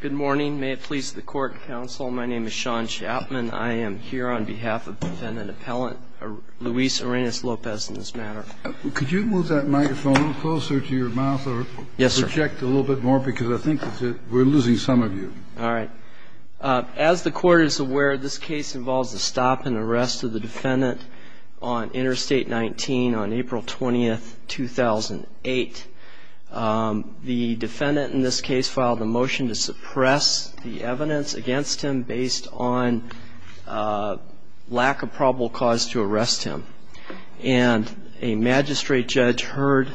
Good morning. May it please the court and counsel, my name is Sean Chapman. I am here on behalf of defendant appellant Luis Arenas-Lopez in this matter. Could you move that microphone closer to your mouth or project a little bit more because I think we're losing some of you. All right. As the court is aware, this case involves a stop and arrest of the defendant on Interstate 19 on April 20, 2008. The defendant in this case filed a motion to suppress the evidence against him based on lack of probable cause to arrest him. And a magistrate judge heard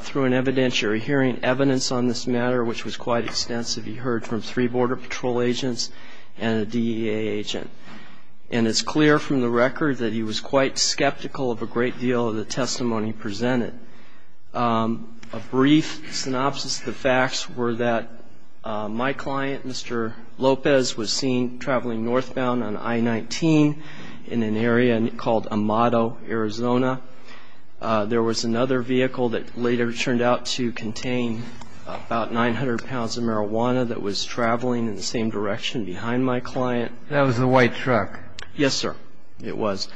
through an evidentiary hearing evidence on this matter which was quite extensive. He heard from three Border Patrol agents and a DEA agent. And it's clear from the record that he was quite skeptical of a great deal of the testimony presented. A brief synopsis of the facts were that my client, Mr. Lopez, was seen traveling northbound on I-19 in an area called Amado, Arizona. There was another vehicle that later turned out to contain about 900 pounds of marijuana that was traveling in the same direction behind my client. That was the white truck? Yes, sir. It was.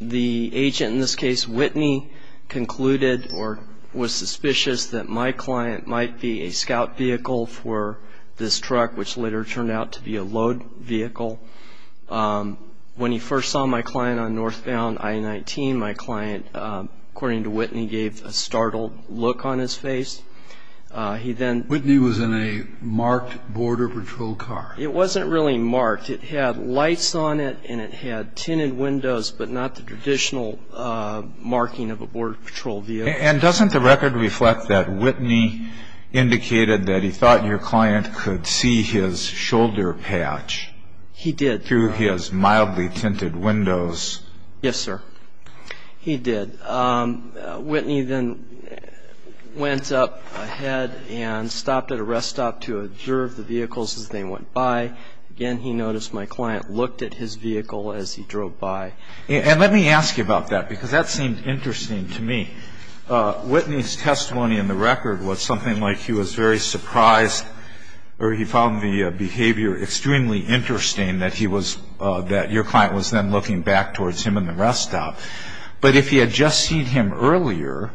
The agent in this case, Whitney, concluded or was suspicious that my client might be a scout vehicle for this truck which later turned out to be a load vehicle. When he first saw my client on northbound I-19, my client, according to Whitney, gave a startled look on his face. Whitney was in a marked Border Patrol car? It wasn't really marked. It had lights on it and it had tinted windows but not the traditional marking of a Border Patrol vehicle. And doesn't the record reflect that Whitney indicated that he thought your client could see his shoulder patch? He did, sir. Through his mildly tinted windows? Yes, sir. He did. Whitney then went up ahead and stopped at a rest stop to observe the vehicles as they went by. Again, he noticed my client looked at his vehicle as he drove by. And let me ask you about that because that seemed interesting to me. Whitney's testimony in the record was something like he was very surprised or he found the behavior extremely interesting that your client was then looking back towards him in the rest stop. But if he had just seen him earlier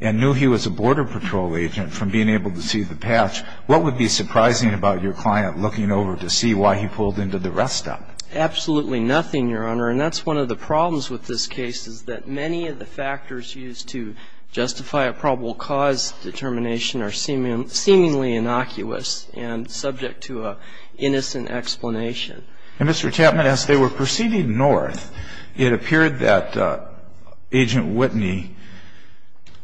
and knew he was a Border Patrol agent from being able to see the patch, what would be surprising about your client looking over to see why he pulled into the rest stop? Absolutely nothing, Your Honor. And that's one of the problems with this case is that many of the factors used to justify a probable cause determination are seemingly innocuous and subject to an innocent explanation. And, Mr. Chapman, as they were proceeding north, it appeared that Agent Whitney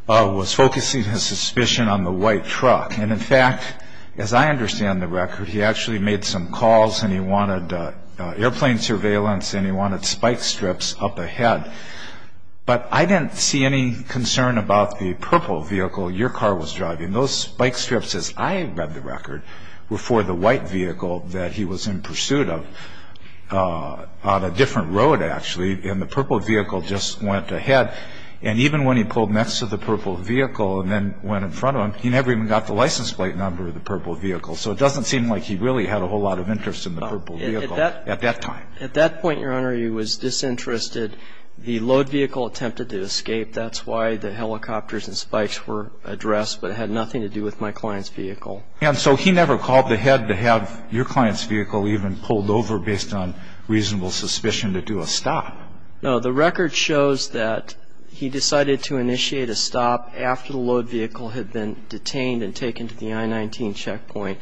was focusing his suspicion on the white truck. And, in fact, as I understand the record, he actually made some calls and he wanted airplane surveillance and he wanted spike strips up ahead. But I didn't see any concern about the purple vehicle your car was driving. Those spike strips, as I read the record, were for the white vehicle that he was in pursuit of on a different road, actually. And the purple vehicle just went ahead. And even when he pulled next to the purple vehicle and then went in front of him, he never even got the license plate number of the purple vehicle. So it doesn't seem like he really had a whole lot of interest in the purple vehicle at that time. At that point, Your Honor, he was disinterested. The load vehicle attempted to escape. That's why the helicopters and spikes were addressed. But it had nothing to do with my client's vehicle. And so he never called ahead to have your client's vehicle even pulled over based on reasonable suspicion to do a stop? No. The record shows that he decided to initiate a stop after the load vehicle had been detained and taken to the I-19 checkpoint.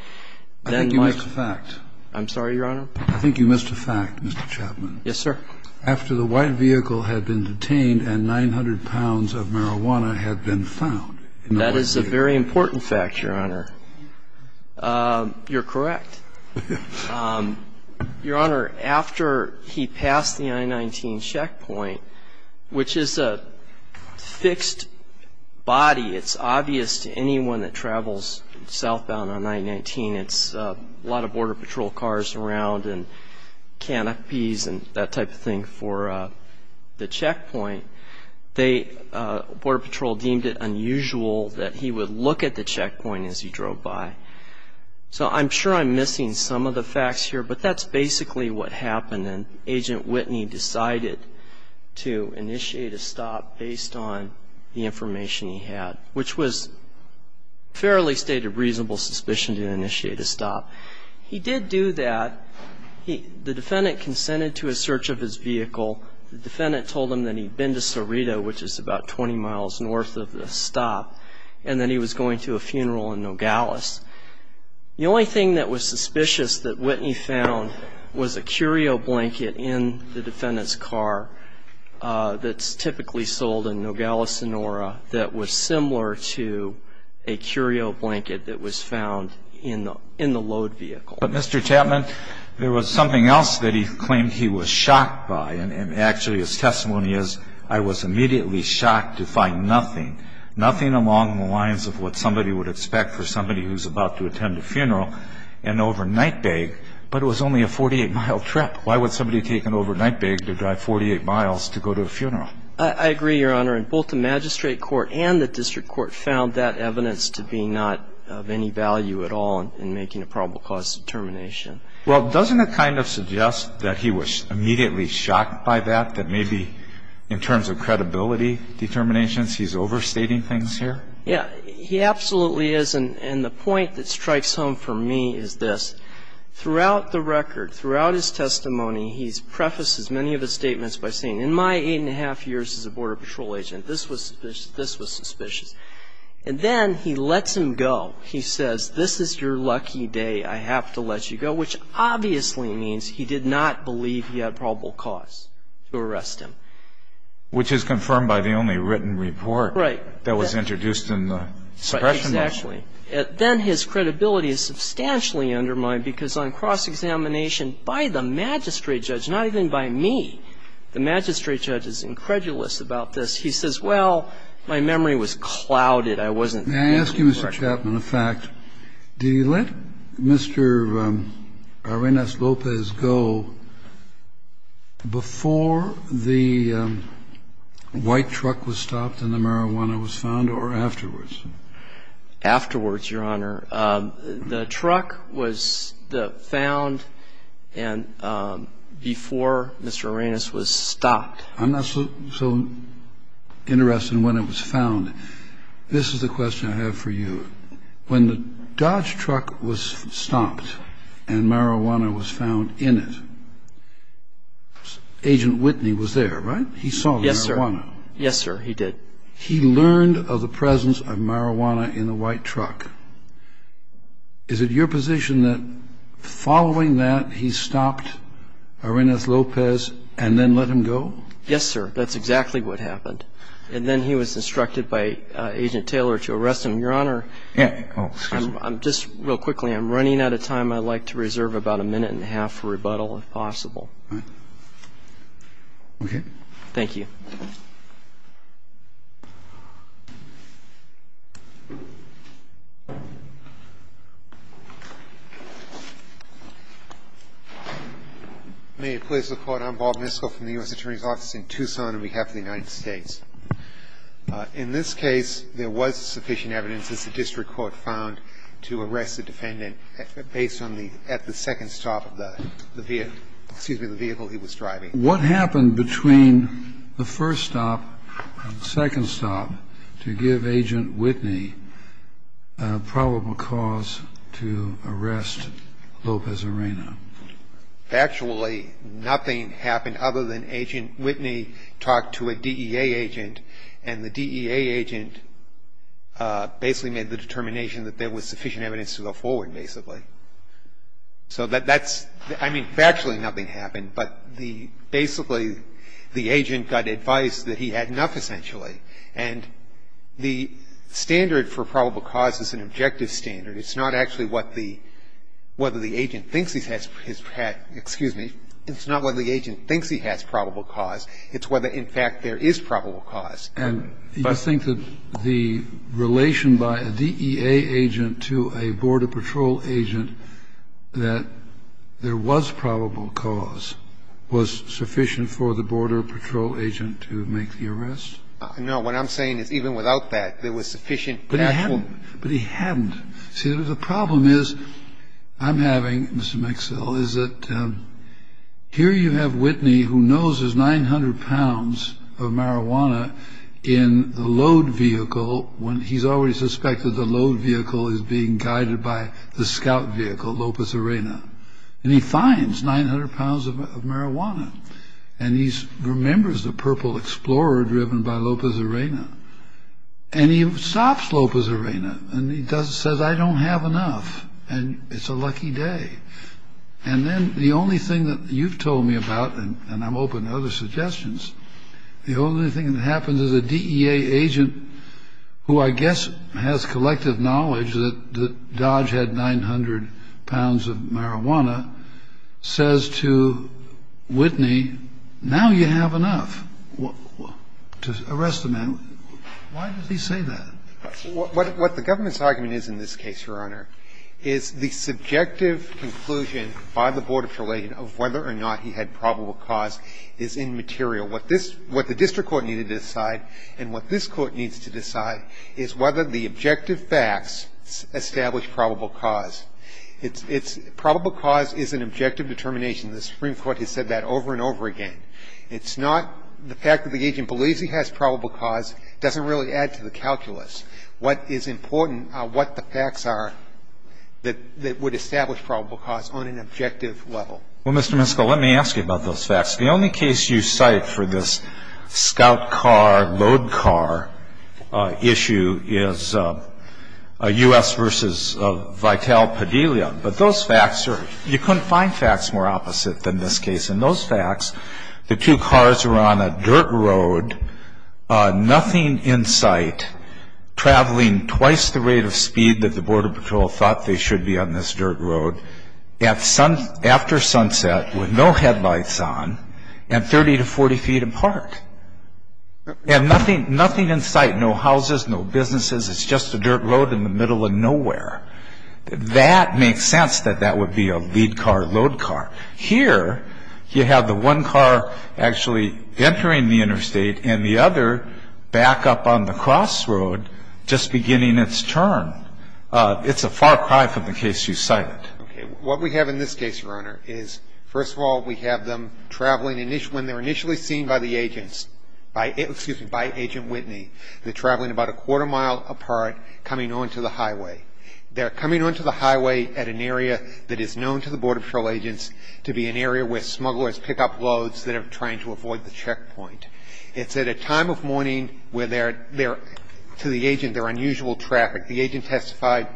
I think you missed a fact. I'm sorry, Your Honor? I think you missed a fact, Mr. Chapman. Yes, sir. After the white vehicle had been detained and 900 pounds of marijuana had been found. That is a very important fact, Your Honor. You're correct. Your Honor, after he passed the I-19 checkpoint, which is a fixed body, it's obvious to anyone that travels southbound on I-19, it's a lot of Border Patrol cars around and canopies and that type of thing for the checkpoint. Border Patrol deemed it unusual that he would look at the checkpoint as he drove by. So I'm sure I'm missing some of the facts here, but that's basically what happened. And Agent Whitney decided to initiate a stop based on the information he had, which was fairly stated reasonable suspicion to initiate a stop. He did do that. The defendant consented to a search of his vehicle. The defendant told him that he'd been to Cerrito, which is about 20 miles north of the stop, and that he was going to a funeral in Nogales. The only thing that was suspicious that Whitney found was a curio blanket in the defendant's car that's typically sold in Nogales, in Sonora, that was similar to a curio blanket that was found in the load vehicle. But, Mr. Chapman, there was something else that he claimed he was shocked by, and actually his testimony is, I was immediately shocked to find nothing, nothing along the lines of what somebody would expect for somebody who's about to attend a funeral, an overnight bag, but it was only a 48-mile trip. Why would somebody take an overnight bag to drive 48 miles to go to a funeral? I agree, Your Honor. And both the magistrate court and the district court found that evidence to be not of any value at all in making a probable cause determination. Well, doesn't it kind of suggest that he was immediately shocked by that, that maybe in terms of credibility determinations he's overstating things here? Yeah. He absolutely is. And the point that strikes home for me is this. Throughout the record, throughout his testimony, he prefaces many of his statements by saying, in my eight-and-a-half years as a border patrol agent, this was suspicious. And then he lets him go. He says, this is your lucky day. I have to let you go, which obviously means he did not believe he had a probable cause to arrest him. Which is confirmed by the only written report that was introduced in the suppression motion. Exactly. And then his credibility is substantially undermined because on cross-examination by the magistrate judge, not even by me, the magistrate judge is incredulous about this. He says, well, my memory was clouded. I wasn't thinking correctly. May I ask you, Mr. Chapman, a fact? Did he let Mr. Arenas Lopez go before the white truck was stopped and the marijuana was found or afterwards? Afterwards, Your Honor. The truck was found before Mr. Arenas was stopped. I'm not so interested in when it was found. This is the question I have for you. When the Dodge truck was stopped and marijuana was found in it, Agent Whitney was there, right? He saw the marijuana. Yes, sir. Yes, sir, he did. He learned of the presence of marijuana in the white truck. Is it your position that following that, he stopped Arenas Lopez and then let him go? Yes, sir. That's exactly what happened. And then he was instructed by Agent Taylor to arrest him. Your Honor, I'm just real quickly, I'm running out of time. I'd like to reserve about a minute and a half for rebuttal if possible. All right. Okay. Thank you. May it please the Court. I'm Bob Miskell from the U.S. Attorney's Office in Tucson on behalf of the United States. In this case, there was sufficient evidence, as the district court found, to arrest the defendant based on the at the second stop of the vehicle he was driving. What happened between the first stop and the second stop to give Agent Whitney a probable cause to arrest Lopez Arena? Factually, nothing happened other than Agent Whitney talked to a DEA agent, and the DEA agent basically made the determination that there was sufficient evidence to go forward, basically. So that's, I mean, factually nothing happened, but the, basically, the agent got advice that he had enough, essentially. And the standard for probable cause is an objective standard. It's not actually what the, whether the agent thinks he has, excuse me, it's not whether the agent thinks he has probable cause. It's whether, in fact, there is probable cause. And you think that the relation by a DEA agent to a Border Patrol agent that there was probable cause was sufficient for the Border Patrol agent to make the arrest? No. What I'm saying is even without that, there was sufficient actual ---- But he hadn't. See, the problem is, I'm having, Mr. Mixell, is that here you have Whitney, who knows there's 900 pounds of marijuana in the load vehicle when he's already suspected the load vehicle is being guided by the scout vehicle, Lopez Arena. And he finds 900 pounds of marijuana, and he remembers the Purple Explorer driven by Lopez Arena. And he stops Lopez Arena, and he says, I don't have enough, and it's a lucky day. And then the only thing that you've told me about, and I'm open to other suggestions, the only thing that happens is a DEA agent who I guess has collective knowledge that Dodge had 900 pounds of marijuana says to Whitney, now you have enough to arrest the man. Why does he say that? What the government's argument is in this case, Your Honor, is the subjective conclusion by the Board of Trial Agents of whether or not he had probable cause is immaterial. What this ---- what the district court needed to decide, and what this Court needs to decide, is whether the objective facts establish probable cause. It's ---- probable cause is an objective determination. The Supreme Court has said that over and over again. It's not the fact that the agent believes he has probable cause doesn't really add to the calculus. What is important are what the facts are that would establish probable cause on an objective level. Well, Mr. Miskol, let me ask you about those facts. The only case you cite for this scout car, load car issue is U.S. versus Vital Pedelia. But those facts are ---- you couldn't find facts more opposite than this case. In those facts, the two cars were on a dirt road, nothing in sight, traveling twice the rate of speed that the Border Patrol thought they should be on this dirt road, after sunset, with no headlights on, and 30 to 40 feet apart. And nothing in sight, no houses, no businesses. It's just a dirt road in the middle of nowhere. That makes sense that that would be a lead car, load car. Here, you have the one car actually entering the interstate and the other back up on the crossroad just beginning its turn. It's a far cry from the case you cite. Okay. What we have in this case, Your Honor, is, first of all, we have them traveling ---- when they're initially seen by the agents, by ---- excuse me, by Agent Whitney, they're traveling about a quarter mile apart, coming onto the highway. They're coming onto the highway at an area that is known to the Border Patrol agents to be an area where smugglers pick up loads that are trying to avoid the checkpoint. It's at a time of morning where they're ---- to the agent, there are unusual traffic. The agent testified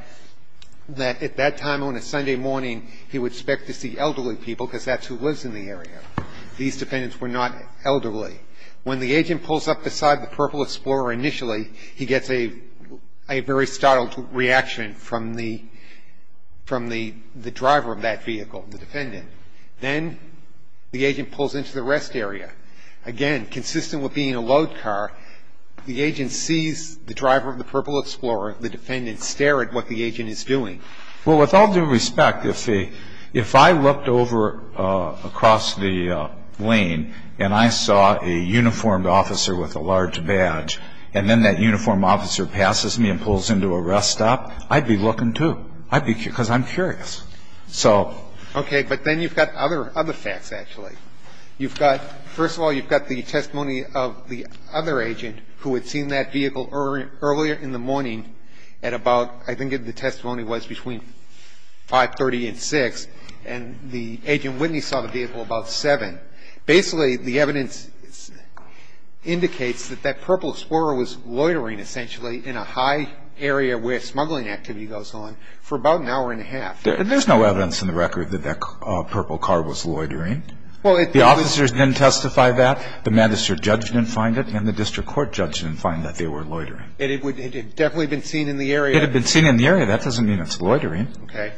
that at that time on a Sunday morning, he would expect to see elderly people because that's who lives in the area. These defendants were not elderly. When the agent pulls up beside the Purple Explorer initially, he gets a very startled reaction from the driver of that vehicle, the defendant. Then the agent pulls into the rest area. Again, consistent with being a load car, the agent sees the driver of the Purple Explorer, the defendant, stare at what the agent is doing. Well, with all due respect, if I looked over across the lane and I saw a uniformed officer with a large badge and then that uniformed officer passes me and pulls into a rest stop, I'd be looking, too. I'd be ---- because I'm curious. So ---- Okay. But then you've got other facts, actually. You've got ---- first of all, you've got the testimony of the other agent who had seen that vehicle earlier in the morning at about, I think the testimony was between 5.30 and 6.00, and the agent Whitney saw the vehicle about 7.00. Basically, the evidence indicates that that Purple Explorer was loitering, essentially, in a high area where smuggling activity goes on for about an hour and a half. There's no evidence in the record that that Purple car was loitering. Well, it ---- The officers didn't testify that. The magistrate judge didn't find it, and the district court judge didn't find that they were loitering. And it would ---- it had definitely been seen in the area. It had been seen in the area. That doesn't mean it's loitering. Okay.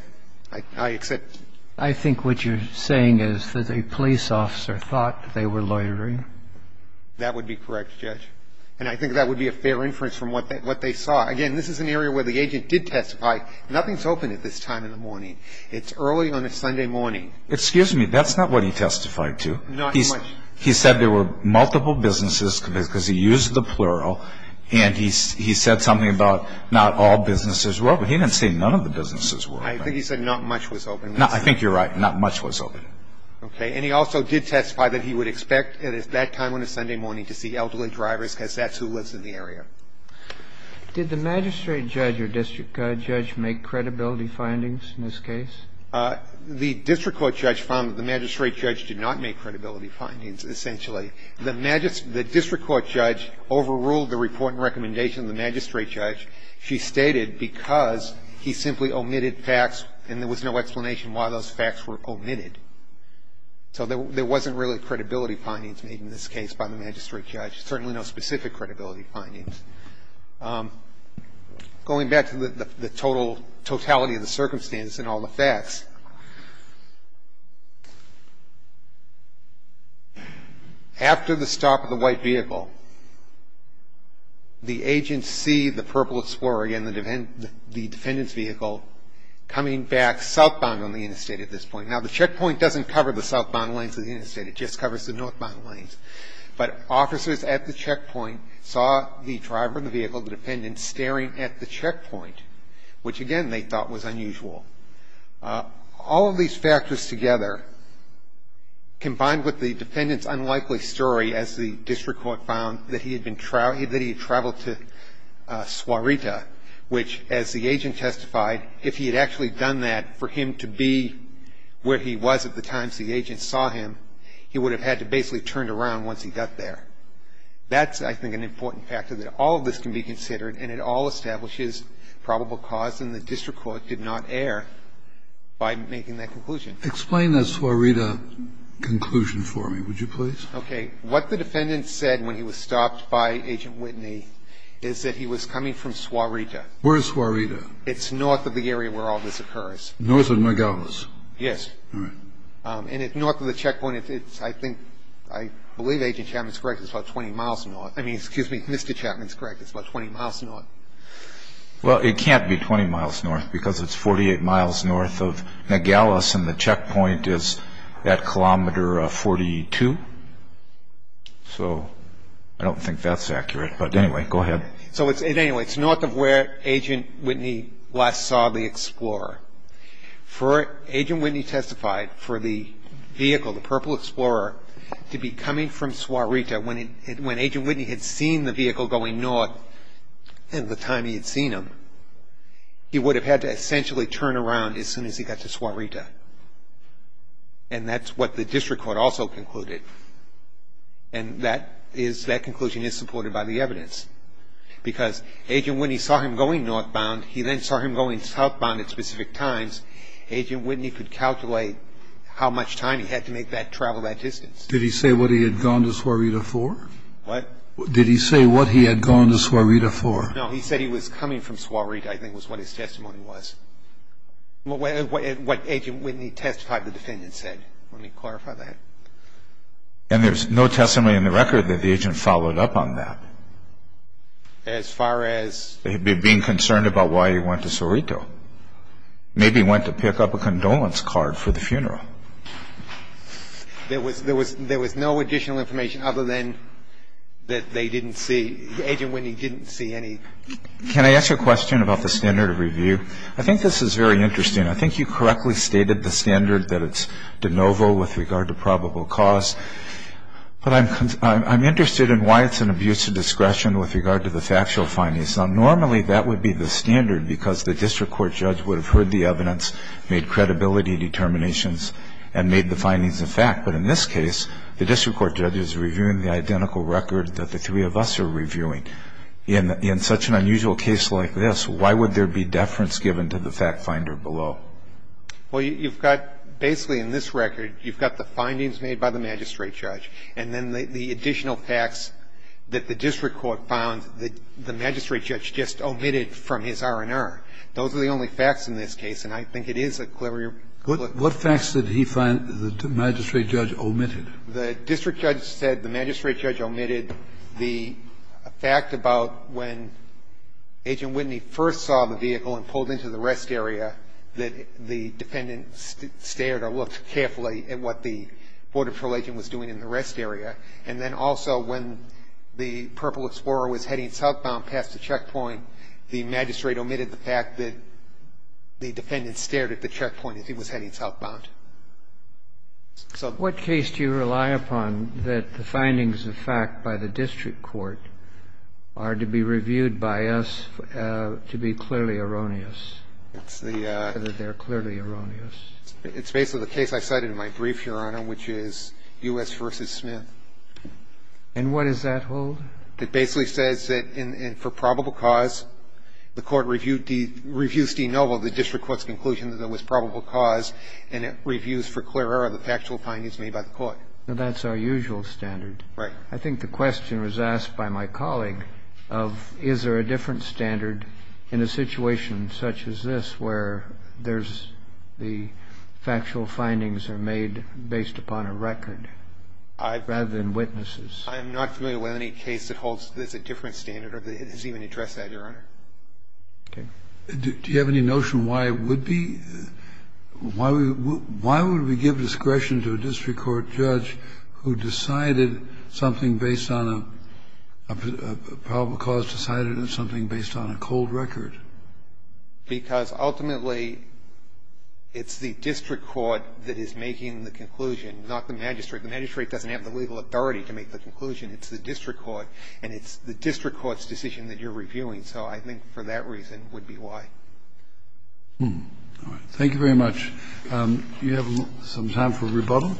I accept. I think what you're saying is that a police officer thought that they were loitering. That would be correct, Judge. And I think that would be a fair inference from what they saw. Again, this is an area where the agent did testify. Nothing's open at this time in the morning. It's early on a Sunday morning. Excuse me. That's not what he testified to. Not much. He said there were multiple businesses, because he used the plural, and he said something about not all businesses were open. He didn't say none of the businesses were open. I think he said not much was open. I think you're right. Not much was open. Okay. And he also did testify that he would expect at that time on a Sunday morning to see elderly drivers because that's who lives in the area. Did the magistrate judge or district judge make credibility findings in this case? The district court judge found that the magistrate judge did not make credibility findings, essentially. The district court judge overruled the report and recommendation of the magistrate judge. She stated because he simply omitted facts and there was no explanation why those facts were omitted. So there wasn't really credibility findings made in this case by the magistrate judge, certainly no specific credibility findings. Going back to the totality of the circumstance and all the facts, after the stop of the white vehicle, the agents see the Purple Explorer, again, the defendant's vehicle, coming back southbound on the interstate at this point. Now, the checkpoint doesn't cover the southbound lanes of the interstate. It just covers the northbound lanes. But officers at the checkpoint saw the driver of the vehicle, the defendant, staring at the checkpoint, which, again, they thought was unusual. All of these factors together, combined with the defendant's unlikely story, as the district court found, that he had traveled to Suarita, which, as the agent testified, if he had actually done that, for him to be where he was at the time the agent saw him, he would have had to basically turn around once he got there. That's, I think, an important factor, that all of this can be considered, and it all establishes probable cause, and the district court did not err by making that conclusion. Kennedy. Explain that Suarita conclusion for me, would you please? Okay. What the defendant said when he was stopped by Agent Whitney is that he was coming from Suarita. Where is Suarita? It's north of the area where all this occurs. North of Nogales? Yes. All right. And it's north of the checkpoint. It's, I think, I believe Agent Chapman's correct. It's about 20 miles north. I mean, excuse me, Mr. Chapman's correct. It's about 20 miles north. Well, it can't be 20 miles north, because it's 48 miles north of Nogales, and the checkpoint is that kilometer of 42. So I don't think that's accurate. But anyway, go ahead. So anyway, it's north of where Agent Whitney last saw the explorer. Agent Whitney testified for the vehicle, the Purple Explorer, to be coming from Suarita. When Agent Whitney had seen the vehicle going north at the time he had seen him, he would have had to essentially turn around as soon as he got to Suarita. And that's what the district court also concluded. And that is, that conclusion is supported by the evidence. Because Agent Whitney saw him going northbound. He then saw him going southbound at specific times. Agent Whitney could calculate how much time he had to make that travel that distance. Did he say what he had gone to Suarita for? What? Did he say what he had gone to Suarita for? No, he said he was coming from Suarita, I think was what his testimony was. What Agent Whitney testified the defendant said. Let me clarify that. And there's no testimony in the record that the agent followed up on that? As far as? As far as not being concerned about why he went to Suarita. Maybe he went to pick up a condolence card for the funeral. There was no additional information other than that they didn't see, Agent Whitney didn't see any. Can I ask a question about the standard of review? I think this is very interesting. I think you correctly stated the standard that it's de novo with regard to probable cause. But I'm interested in why it's an abuse of discretion with regard to the factual findings. Now, normally that would be the standard because the district court judge would have heard the evidence, made credibility determinations, and made the findings a fact. But in this case, the district court judge is reviewing the identical record that the three of us are reviewing. In such an unusual case like this, why would there be deference given to the fact finder below? Well, you've got basically in this record, you've got the findings made by the magistrate judge, and then the additional facts that the district court found that the magistrate judge just omitted from his R&R. Those are the only facts in this case, and I think it is a clearer conclusion. What facts did he find that the magistrate judge omitted? The district judge said the magistrate judge omitted the fact about when Agent Whitney first saw the vehicle and pulled into the rest area that the defendant stared or looked carefully at what the Border Patrol agent was doing in the rest area. And then also when the Purple Explorer was heading southbound past the checkpoint, the magistrate omitted the fact that the defendant stared at the checkpoint as he was heading southbound. So what case do you rely upon that the findings of fact by the district court are to be reviewed by us to be clearly erroneous, that they're clearly erroneous? It's basically the case I cited in my brief, Your Honor, which is U.S. v. Smith. And what does that hold? It basically says that for probable cause, the Court reviews de novo the district court's conclusion that there was probable cause, and it reviews for clear error the factual findings made by the Court. That's our usual standard. Right. I think the question was asked by my colleague of, is there a different standard in a situation such as this where there's the factual findings are made based upon a record rather than witnesses? I'm not familiar with any case that holds this a different standard or has even addressed that, Your Honor. Okay. Do you have any notion why it would be? Why would we give discretion to a district court judge who decided something based on a probable cause decided on something based on a cold record? Because ultimately it's the district court that is making the conclusion, not the magistrate. The magistrate doesn't have the legal authority to make the conclusion. It's the district court. And it's the district court's decision that you're reviewing. So I think for that reason would be why. All right. Thank you very much. Do you have some time for rebuttal?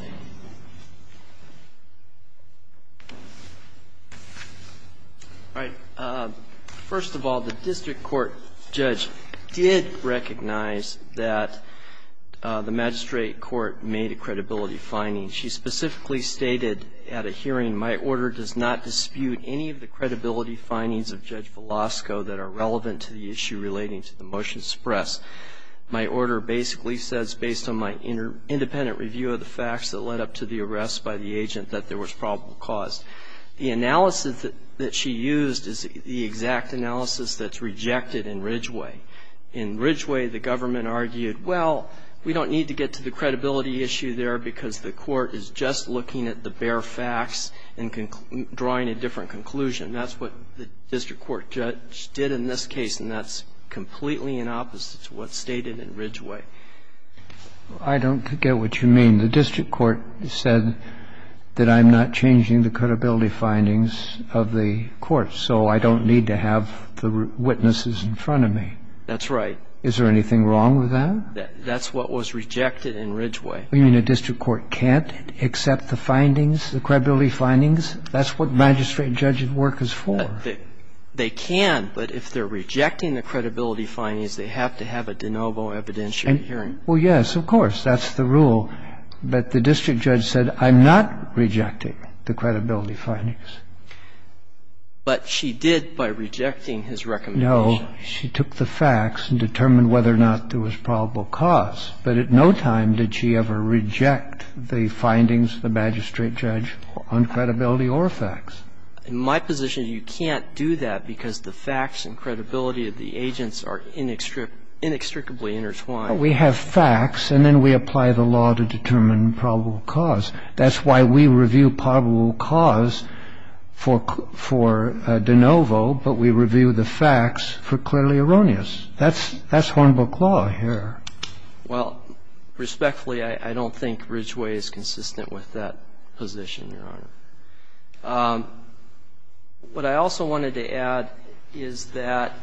All right. First of all, the district court judge did recognize that the magistrate court made a credibility finding. She specifically stated at a hearing, My order does not dispute any of the credibility findings of Judge Velasco that are relevant to the issue relating to the motion to suppress. My order basically says based on my independent review of the facts that led up to the arrest by the agent that there was probable cause. The analysis that she used is the exact analysis that's rejected in Ridgway. In Ridgway, the government argued, well, we don't need to get to the credibility issue there because the court is just looking at the bare facts and drawing a different conclusion. That's what the district court judge did in this case, and that's completely in opposite to what's stated in Ridgway. I don't get what you mean. The district court said that I'm not changing the credibility findings of the court, so I don't need to have the witnesses in front of me. That's right. Is there anything wrong with that? That's what was rejected in Ridgway. You mean a district court can't accept the findings, the credibility findings? That's what magistrate and judge at work is for. They can, but if they're rejecting the credibility findings, they have to have a de novo evidentiary hearing. Well, yes, of course. That's the rule. But the district judge said I'm not rejecting the credibility findings. But she did by rejecting his recommendation. No. She took the facts and determined whether or not there was probable cause. But at no time did she ever reject the findings of the magistrate judge on credibility or facts. In my position, you can't do that because the facts and credibility of the agents are inextricably intertwined. We have facts, and then we apply the law to determine probable cause. That's why we review probable cause for de novo, but we review the facts for clearly erroneous. That's Hornbook law here. Well, respectfully, I don't think Ridgway is consistent with that position, Your Honor. What I also wanted to add is that,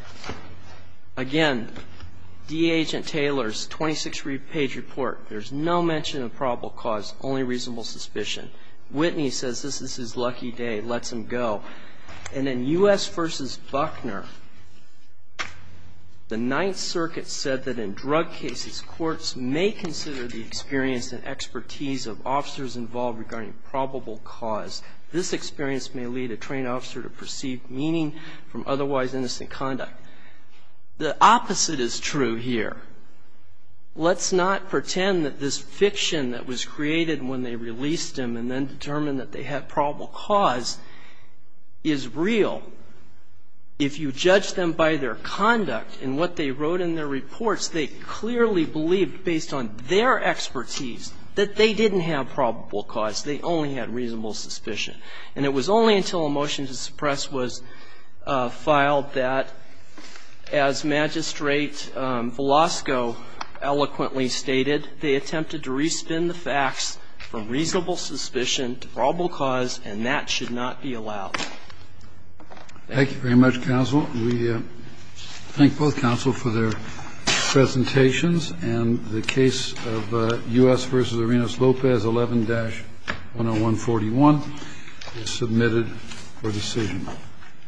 again, D.Agent Taylor's 26-page report, there's no mention of probable cause, only reasonable suspicion. Whitney says this is his lucky day, lets him go. And in U.S. v. Buckner, the Ninth Circuit said that in drug cases, courts may consider the expertise of officers involved regarding probable cause. This experience may lead a trained officer to perceive meaning from otherwise innocent conduct. The opposite is true here. Let's not pretend that this fiction that was created when they released him and then determined that they had probable cause is real. If you judge them by their conduct and what they wrote in their reports, they clearly believed, based on their expertise, that they didn't have probable cause. They only had reasonable suspicion. And it was only until a motion to suppress was filed that, as Magistrate Velasco eloquently stated, they attempted to re-spin the facts from reasonable suspicion to probable cause, and that should not be allowed. Thank you very much, counsel. We thank both counsel for their presentations. And the case of U.S. v. Arenas-Lopez 11-10141 is submitted for decision.